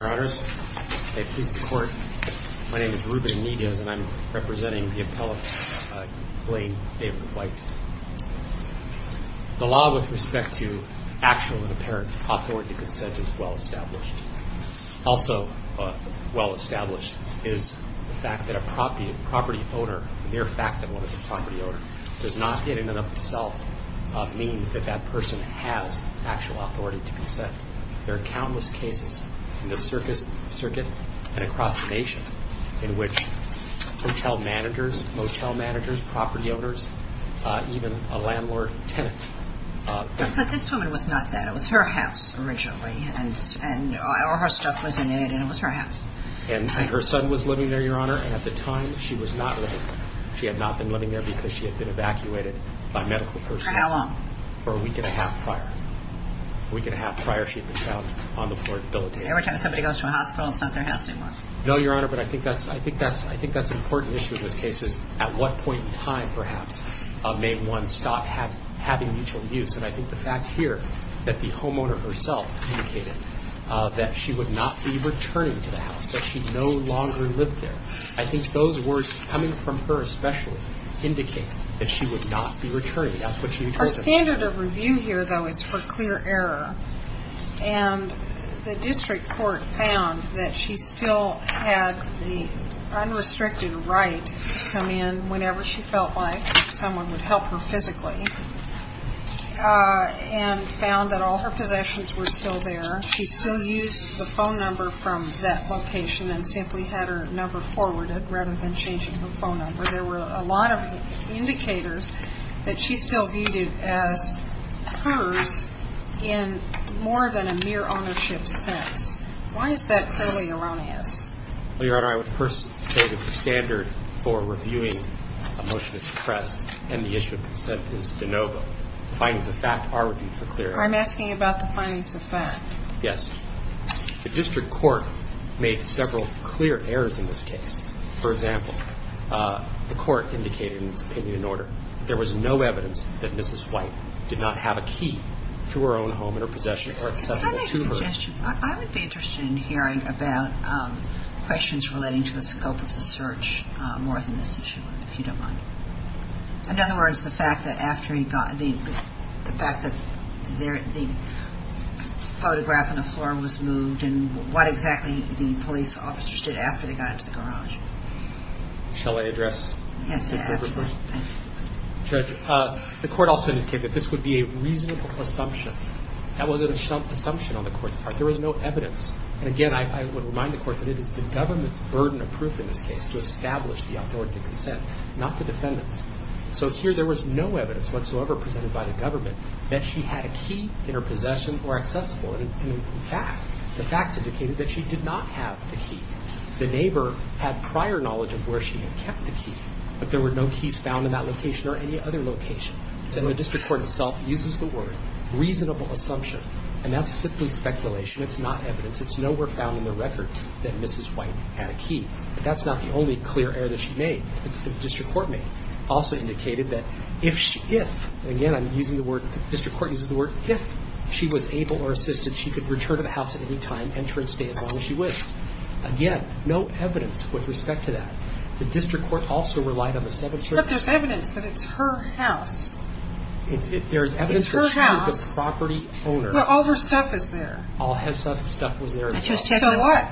My name is Ruben Niedes and I'm representing the appellate, Blaine David Whyte. The law with respect to actual and apparent authority consent is well established. Also well established is the fact that a property owner, mere fact that one is a property owner, does not in and of itself mean that that person has actual authority to consent. There are countless cases in the circuit and across the nation in which hotel managers, motel managers, property owners, even a landlord-tenant. But this woman was not that. It was her house originally. All her stuff was in it and it was her house. And her son was living there, Your Honor, and at the time she was not living there. She had not been living there because she had been evacuated by medical personnel. For how long? For a week and a half prior. A week and a half prior she had been found on the floor debilitating. So every time somebody goes to a hospital it's not their house anymore? No, Your Honor, but I think that's an important issue in this case is at what point in time perhaps may one stop having mutual use. And I think the fact here that the homeowner herself indicated that she would not be returning to the house, that she no longer lived there. I think those words coming from her especially indicate that she would not be returning. Our standard of review here, though, is for clear error. And the district court found that she still had the unrestricted right to come in whenever she felt like if someone would help her physically and found that all her possessions were still there. She still used the phone number from that location and simply had her number forwarded rather than changing her phone number. There were a lot of indicators that she still viewed it as hers in more than a mere ownership sense. Why is that clearly erroneous? Well, Your Honor, I would first say that the standard for reviewing a motion is pressed and the issue of consent is de novo. The findings of fact are reviewed for clear error. I'm asking about the findings of fact. Yes. The district court made several clear errors in this case. For example, the court indicated in its opinion in order there was no evidence that Mrs. White did not have a key to her own home and her possessions were accessible to her. I would be interested in hearing about questions relating to the scope of the search more than this issue, if you don't mind. In other words, the fact that after he got the photograph on the floor was moved and what exactly the police officer did after they got into the garage. Shall I address? Yes. Judge, the court also indicated that this would be a reasonable assumption. That wasn't an assumption on the court's part. There was no evidence. And again, I would remind the court that it is the government's burden of proof in this So here there was no evidence whatsoever presented by the government that she had a key in her possession or accessible. In fact, the facts indicated that she did not have the key. The neighbor had prior knowledge of where she had kept the key, but there were no keys found in that location or any other location. So the district court itself uses the word reasonable assumption, and that's simply speculation. It's not evidence. It's nowhere found in the record that Mrs. White had a key. But that's not the only clear error that she made. The district court made also indicated that if she, if, again, I'm using the word, the district court uses the word if she was able or assisted, she could return to the house at any time, enter and stay as long as she wished. Again, no evidence with respect to that. The district court also relied on the 7th Circuit. But there's evidence that it's her house. There's evidence that she was the property owner. Where all her stuff is there. All her stuff was there as well. So what?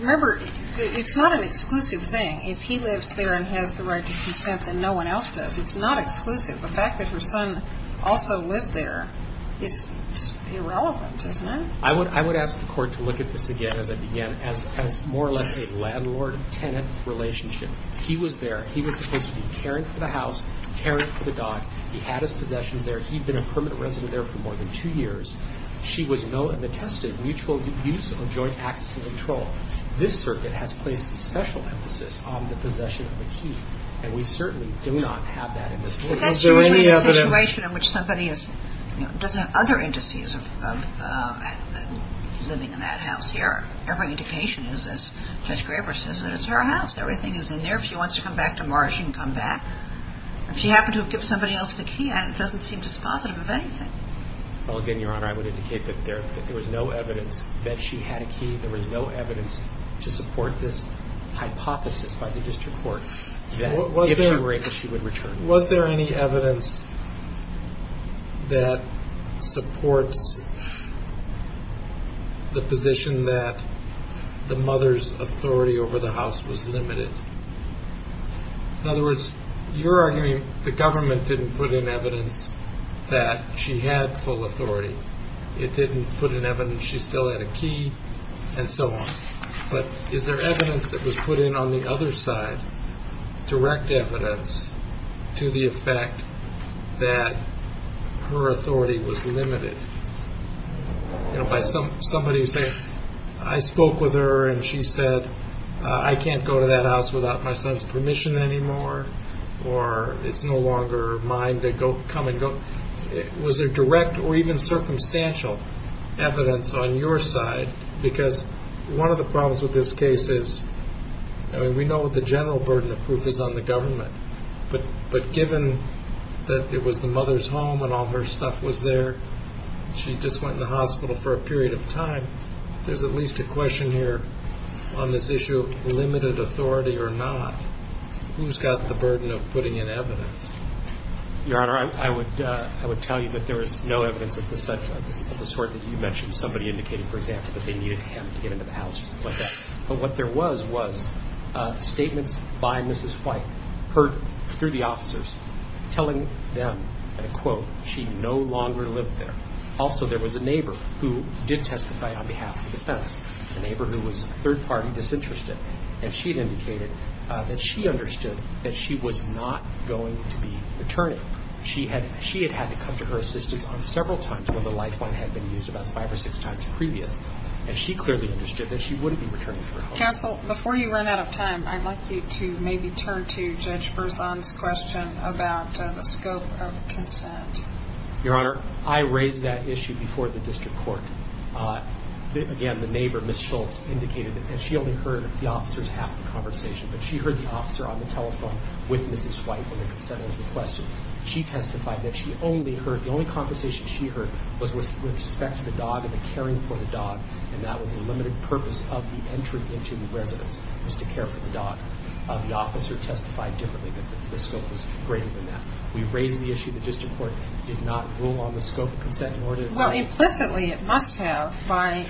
Remember, it's not an exclusive thing. If he lives there and has the right to consent, then no one else does. It's not exclusive. The fact that her son also lived there is irrelevant, isn't it? I would ask the Court to look at this again, as I began, as more or less a landlord-tenant relationship. He was there. He was supposed to be caring for the house, caring for the dog. He had his possessions there. He'd been a permanent resident there for more than two years. She was known and attested to mutual use of joint access and control. This Circuit has placed a special emphasis on the possession of a key, and we certainly do not have that in this case. Is there any evidence? Because you're in a situation in which somebody doesn't have other indices of living in that house here. Every indication is, as Judge Graber says, that it's her house. Everything is in there. If she wants to come back to Mars, she can come back. If she happened to have given somebody else the key, it doesn't seem dispositive of anything. Well, again, Your Honor, I would indicate that there was no evidence that she had a key. There was no evidence to support this hypothesis by the district court that if she were able, she would return. Was there any evidence that supports the position that the mother's authority over the house was limited? In other words, you're arguing the government didn't put in evidence that she had full authority. It didn't put in evidence she still had a key and so on. But is there evidence that was put in on the other side, direct evidence to the effect that her authority was limited? You know, by somebody saying, I spoke with her and she said, I can't go to that house without my son's permission anymore or it's no longer mine to come and go. Was there direct or even circumstantial evidence on your side? Because one of the problems with this case is, I mean, we know what the general burden of proof is on the government. But given that it was the mother's home and all her stuff was there, she just went in the hospital for a period of time, there's at least a question here on this issue of limited authority or not. Who's got the burden of putting in evidence? Your Honor, I would tell you that there is no evidence of this sort. You mentioned somebody indicating, for example, that they needed him to get into the house or something like that. But what there was, was statements by Mrs. White, heard through the officers, telling them, and I quote, she no longer lived there. Also, there was a neighbor who did testify on behalf of the defense, a neighbor who was third-party disinterested. And she had indicated that she understood that she was not going to be returning. She had had to come to her assistance on several times when the lifeline had been used about five or six times previous. And she clearly understood that she wouldn't be returning. Counsel, before you run out of time, I'd like you to maybe turn to Judge Berzon's question about the scope of consent. Your Honor, I raised that issue before the district court. Again, the neighbor, Ms. Schultz, indicated that she only heard the officers half of the conversation. But she heard the officer on the telephone with Mrs. White when they consented to the question. She testified that she only heard, the only conversation she heard, was with respect to the dog and the caring for the dog. And that was the limited purpose of the entry into the residence, was to care for the dog. The officer testified differently that the scope was greater than that. We raised the issue. The district court did not rule on the scope of consent. Well, implicitly, it must have, by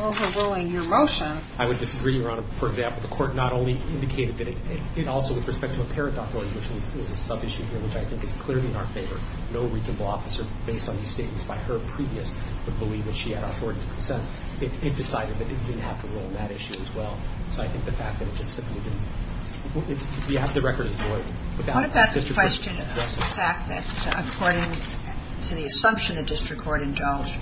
overruling your motion. I would disagree, Your Honor. For example, the court not only indicated that it also, with respect to apparent authority, which is a sub-issue here, which I think is clearly in our favor. No reasonable officer, based on the statements by her previous, would believe that she had authority to consent. It decided that it didn't have to rule on that issue as well. So I think the fact that it just simply didn't. The record is void. What about the question of the fact that, according to the assumption the district court indulged,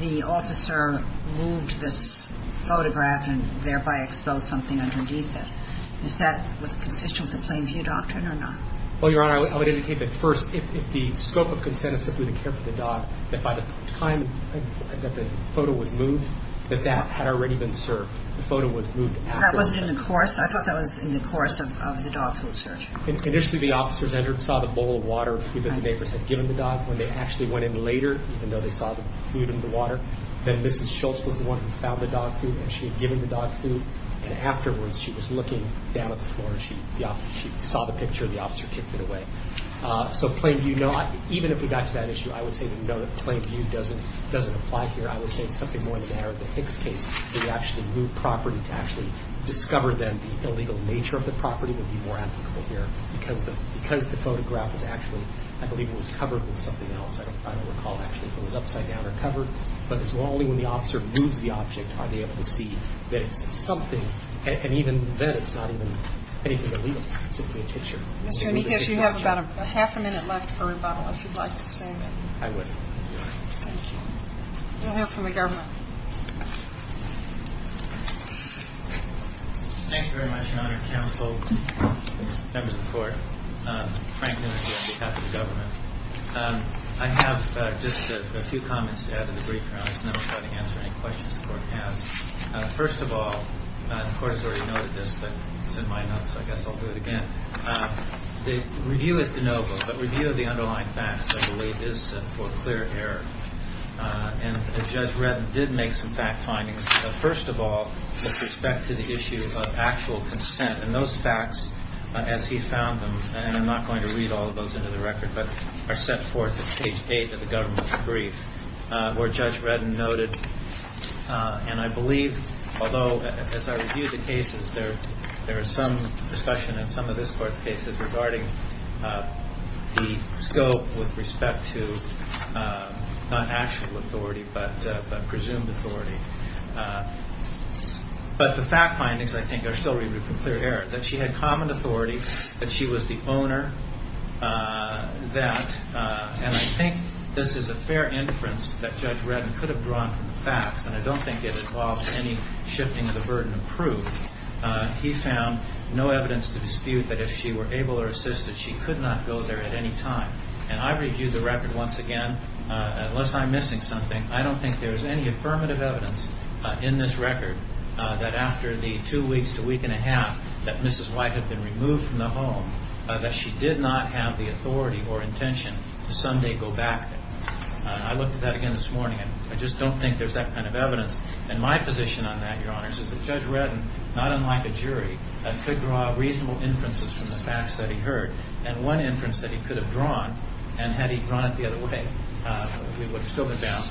the officer moved this photograph and thereby exposed something underneath it? Is that consistent with the plain view doctrine or not? Well, Your Honor, I would indicate that, first, if the scope of consent is simply to care for the dog, that by the time that the photo was moved, that that had already been served. The photo was moved. That wasn't in the course? I thought that was in the course of the dog food search. Initially, the officers entered and saw the bowl of water that the neighbors had given the dog. When they actually went in later, even though they saw the food in the water, then Mrs. Schultz was the one who found the dog food, and she had given the dog food. And afterwards, she was looking down at the floor, and she saw the picture, and the officer kicked it away. So plain view, even if we got to that issue, I would say that we know that plain view doesn't apply here. I would say it's something more in the manner of the Hicks case where they actually move property to actually discover then the illegal nature of the property would be more applicable here because the photograph was actually, I believe, it was covered with something else. I don't recall actually if it was upside down or covered, but it's only when the officer moves the object are they able to see that it's something, and even then it's not even anything illegal. It's simply a picture. Mr. Enriquez, you have about a half a minute left for rebuttal, if you'd like to say anything. I would. Thank you. We'll hear from the government. Thank you very much, Your Honor, counsel, members of the court, Franklin Enriquez on behalf of the government. I have just a few comments to add in the brief, and I'll try to answer any questions the court has. First of all, the court has already noted this, but it's in my notes, so I guess I'll do it again. The review is de novo, but review of the underlying facts, I believe, is for clear error. And Judge Reddin did make some fact findings. First of all, with respect to the issue of actual consent, and those facts, as he found them, and I'm not going to read all of those into the record, but are set forth at page 8 of the government's brief, where Judge Reddin noted, and I believe, although as I review the cases, there is some discussion in some of this court's cases regarding the scope with respect to not actual authority, but presumed authority. But the fact findings, I think, are still for clear error, that she had common authority, that she was the owner, and I think this is a fair inference that Judge Reddin could have drawn from the facts, and I don't think it involved any shifting of the burden of proof. He found no evidence to dispute that if she were able or assisted, she could not go there at any time. And I review the record once again. Unless I'm missing something, I don't think there's any affirmative evidence in this record that after the two weeks to a week and a half that Mrs. White had been removed from the home, that she did not have the authority or intention to someday go back there. I looked at that again this morning, and I just don't think there's that kind of evidence. And my position on that, Your Honors, is that Judge Reddin, not unlike a jury, could draw reasonable inferences from the facts that he heard. And one inference that he could have drawn, and had he drawn it the other way, we would have still been bound,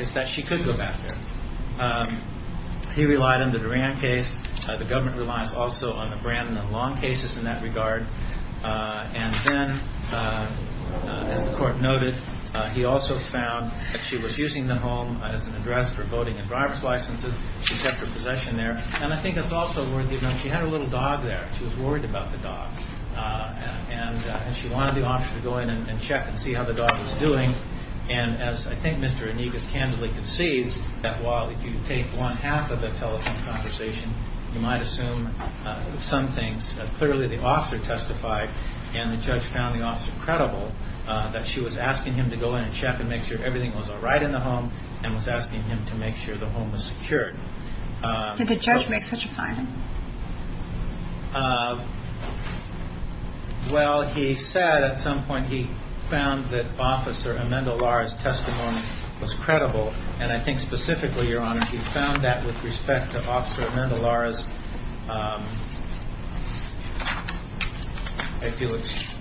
is that she could go back there. He relied on the Duran case. The government relies also on the Brandon and Long cases in that regard. And then, as the court noted, he also found that she was using the home as an address for voting and driver's licenses. She kept her possession there. And I think it's also worth noting she had her little dog there. She was worried about the dog. And she wanted the officer to go in and check and see how the dog was doing. And as I think Mr. Eniguez candidly concedes, that while if you take one half of the telephone conversation, you might assume some things, clearly the officer testified, and the judge found the officer credible, that she was asking him to go in and check and make sure everything was all right in the home, and was asking him to make sure the home was secured. Did the judge make such a finding? Well, he said at some point he found that Officer Amanda Lara's testimony was credible. And I think specifically, Your Honor, he found that with respect to Officer Amanda Lara's... I feel it's...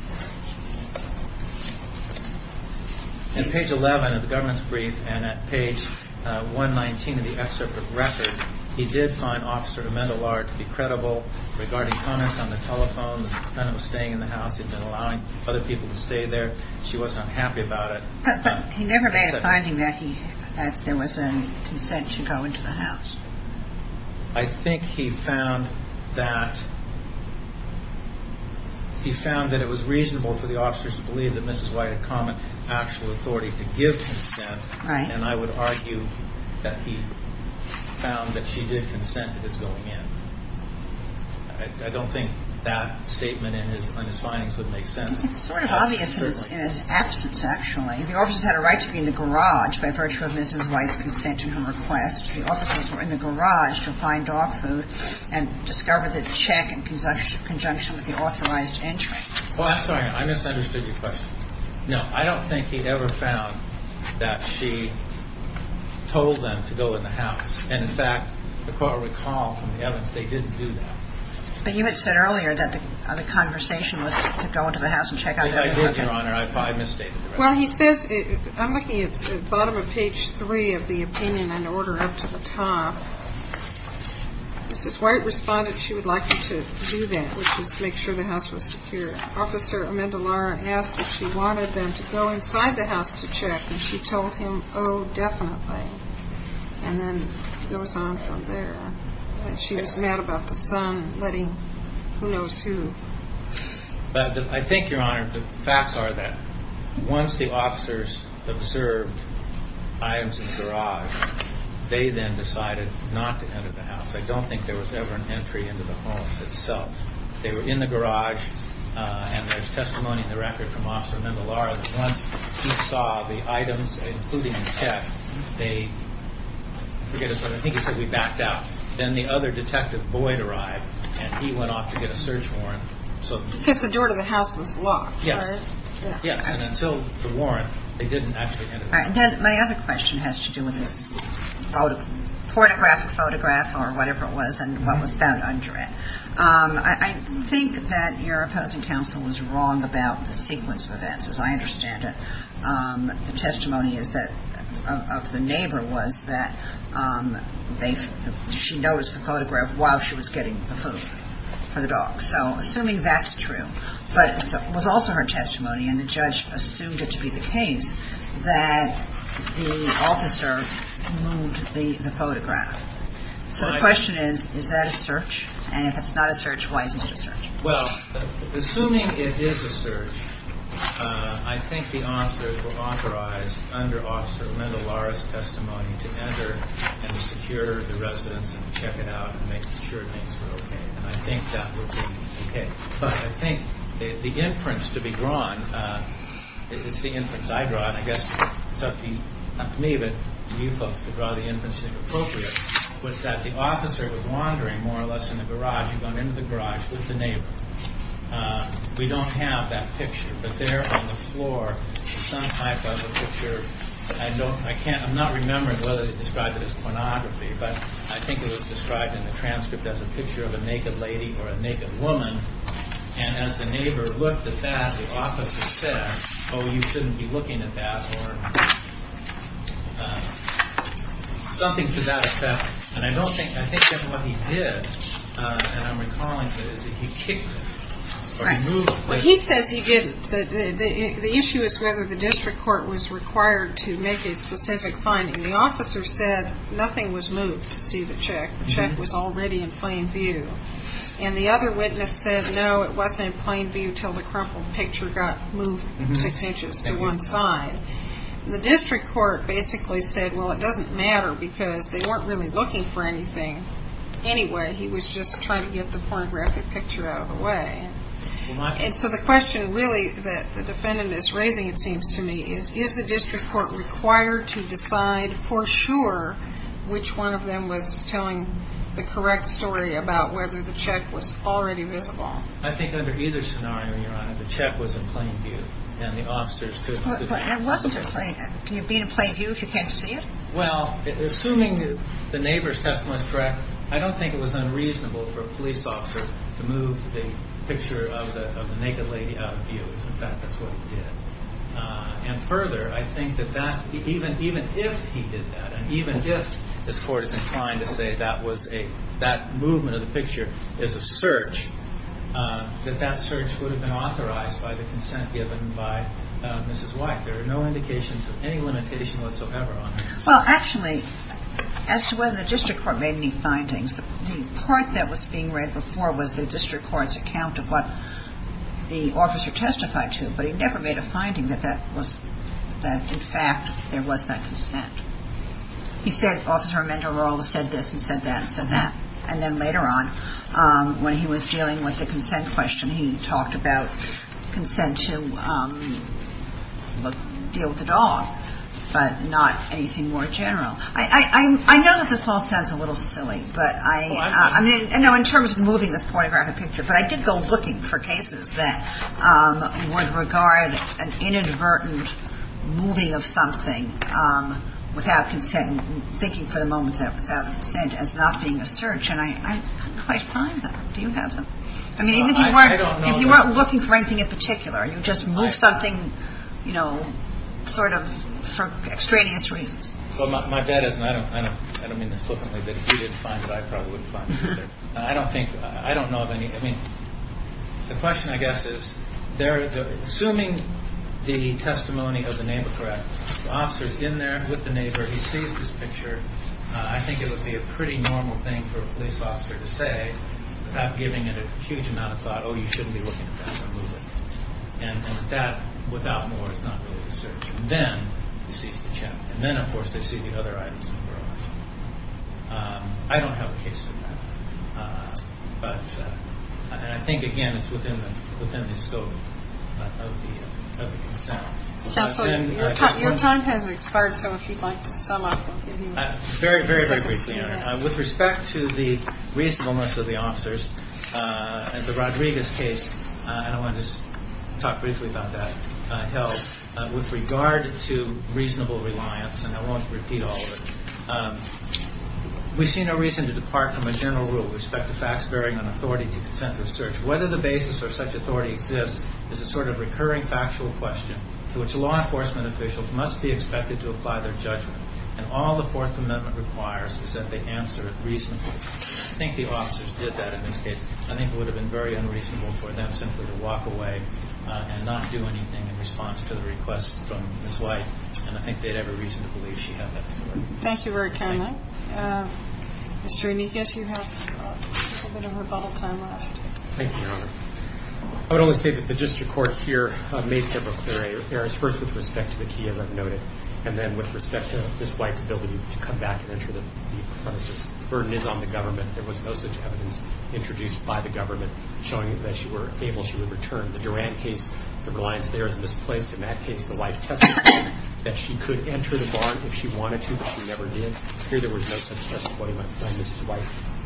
In page 11 of the government's brief, and at page 119 of the excerpt of the record, he did find Officer Amanda Lara to be credible regarding comments on the telephone, that the defendant was staying in the house, he'd been allowing other people to stay there, she wasn't happy about it. He never made a finding that there was a consent to go into the house. I think he found that... He found that it was reasonable for the officers to believe that Mrs. White had common actual authority to give consent, and I would argue that he found that she did consent to this going in. I don't think that statement in his findings would make sense. It's sort of obvious in his absence, actually. The officers had a right to be in the garage by virtue of Mrs. White's consent and her request. The officers were in the garage to find dog food and discover the check in conjunction with the authorized entry. Well, I'm sorry, I misunderstood your question. No, I don't think he ever found that she told them to go in the house. And, in fact, the court recalled from the evidence they didn't do that. But you had said earlier that the conversation was to go into the house and check out... I did, Your Honor. I probably misstated it. Well, he says... I'm looking at the bottom of page 3 of the opinion in order up to the top. Mrs. White responded she would like you to do that, which is to make sure the house was secure. Officer Amendolara asked if she wanted them to go inside the house to check, and she told him, oh, definitely. And then it goes on from there. She was mad about the son letting who knows who. I think, Your Honor, the facts are that once the officers observed items in the garage, they then decided not to enter the house. I don't think there was ever an entry into the home itself. They were in the garage, and there's testimony in the record from Officer Amendolara that once he saw the items, including the check, they... I forget his name. I think he said, we backed out. Then the other detective, Boyd, arrived, and he went off to get a search warrant. Because the door to the house was locked, right? Yes, and until the warrant, they didn't actually enter the house. All right, and then my other question has to do with this photograph, or whatever it was, and what was found under it. I think that your opposing counsel was wrong about the sequence of events, as I understand it. The testimony of the neighbor was that she noticed the photograph while she was getting the food for the dogs. So assuming that's true, but it was also her testimony, and the judge assumed it to be the case that the officer moved the photograph. So the question is, is that a search? And if it's not a search, why isn't it a search? Well, assuming it is a search, I think the officers were authorized under Officer Amendolara's testimony to enter and secure the residence and check it out and make sure things were okay. And I think that would be okay. But I think the inference to be drawn, it's the inference I draw, and I guess it's up to you folks to draw the inference that's appropriate, was that the officer was wandering more or less in the garage and going into the garage with the neighbor. We don't have that picture, but there on the floor is some type of a picture. I'm not remembering whether they described it as pornography, but I think it was described in the transcript as a picture of a naked lady or a naked woman. And as the neighbor looked at that, the officer said, oh, you shouldn't be looking at that, or something to that effect. And I think that's what he did, and I'm recalling that he kicked her. He says he didn't. The issue is whether the district court was required to make a specific finding. The officer said nothing was moved to see the check. The check was already in plain view. And the other witness said, no, it wasn't in plain view until the crumpled picture got moved six inches to one side. The district court basically said, well, it doesn't matter because they weren't really looking for anything anyway. He was just trying to get the pornographic picture out of the way. And so the question really that the defendant is raising, it seems to me, is is the district court required to decide for sure which one of them was telling the correct story about whether the check was already visible. I think under either scenario, Your Honor, the check was in plain view and the officers couldn't. It wasn't in plain view. Can you be in plain view if you can't see it? Well, assuming the neighbor's testimony is correct, I don't think it was unreasonable for a police officer to move the picture of the naked lady out of view. In fact, that's what he did. And further, I think that even if he did that and even if this Court is inclined to say that movement of the picture is a search, that that search would have been authorized by the consent given by Mrs. White. There are no indications of any limitation whatsoever, Your Honor. Well, actually, as to whether the district court made any findings, the part that was being read before was the district court's account of what the officer testified to, but he never made a finding that, in fact, there was not consent. He said, Officer Amendola said this and said that and said that. And then later on, when he was dealing with the consent question, he talked about consent to deal with the dog, but not anything more general. I know that this all sounds a little silly, but in terms of moving this pornographic picture, but I did go looking for cases that would regard an inadvertent moving of something without consent and thinking for the moment that it was out of consent as not being a search, and I couldn't quite find them. Do you have them? I mean, if you weren't looking for anything in particular, you just moved something, you know, sort of for extraneous reasons. Well, my bet is, and I don't mean this flippantly, that if he didn't find it, I probably wouldn't find it either. I don't think, I don't know of any. I mean, the question I guess is, assuming the testimony of the neighbor correct, the officer's in there with the neighbor, he sees this picture, I think it would be a pretty normal thing for a police officer to say without giving it a huge amount of thought, oh, you shouldn't be looking at that, don't move it. And that, without more, is not really a search. And then he sees the chip. And then, of course, they see the other items in the garage. I don't have a case to that. But I think, again, it's within the scope of the concern. Counselor, your time has expired, so if you'd like to sum up. Very, very, very briefly. With respect to the reasonableness of the officers, the Rodriguez case, and I want to just talk briefly about that, with regard to reasonable reliance, and I won't repeat all of it. We see no reason to depart from a general rule with respect to facts bearing on authority to consent with search. Whether the basis for such authority exists is a sort of recurring factual question to which law enforcement officials must be expected to apply their judgment. And all the Fourth Amendment requires is that they answer it reasonably. I think the officers did that in this case. I think it would have been very unreasonable for them simply to walk away and not do anything in response to the request from Ms. White. And I think they'd have a reason to believe she had that authority. Thank you for your time, though. Mr. Enriquez, you have a little bit of rebuttal time left. Thank you, Your Honor. I would only say that the district court here made several clear errors, first with respect to the key, as I've noted, and then with respect to Ms. White's ability to come back and ensure that the burden is on the government. There was no such evidence introduced by the government showing that she would return. The Durand case, the reliance there is misplaced. In that case, the wife testified that she could enter the barn if she wanted to, but she never did. Here there was no such testimony by Ms. White.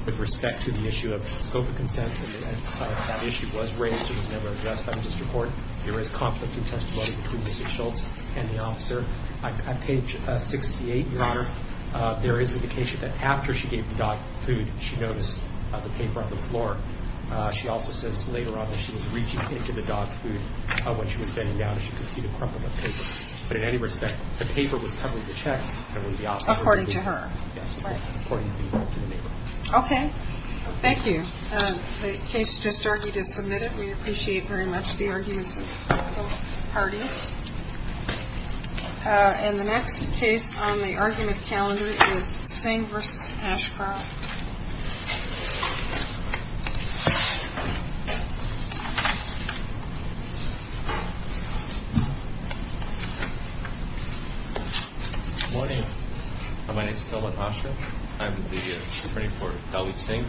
With respect to the issue of scope of consent, that issue was raised and was never addressed by the district court. There is conflicting testimony between Ms. Schultz and the officer. On page 68, Your Honor, there is indication that after she gave the dog food, she noticed the paper on the floor. She also says later on that she was reaching into the dog food when she was bending down and she could see the crumple of paper. But in any respect, the paper was covering the check. According to her. Yes. According to the neighbor. Okay. Thank you. The case just argued is submitted. We appreciate very much the arguments of both parties. And the next case on the argument calendar is Singh v. Ashcroft. Morning. My name is Tilwat Asha. I'm the attorney for Dalit Singh.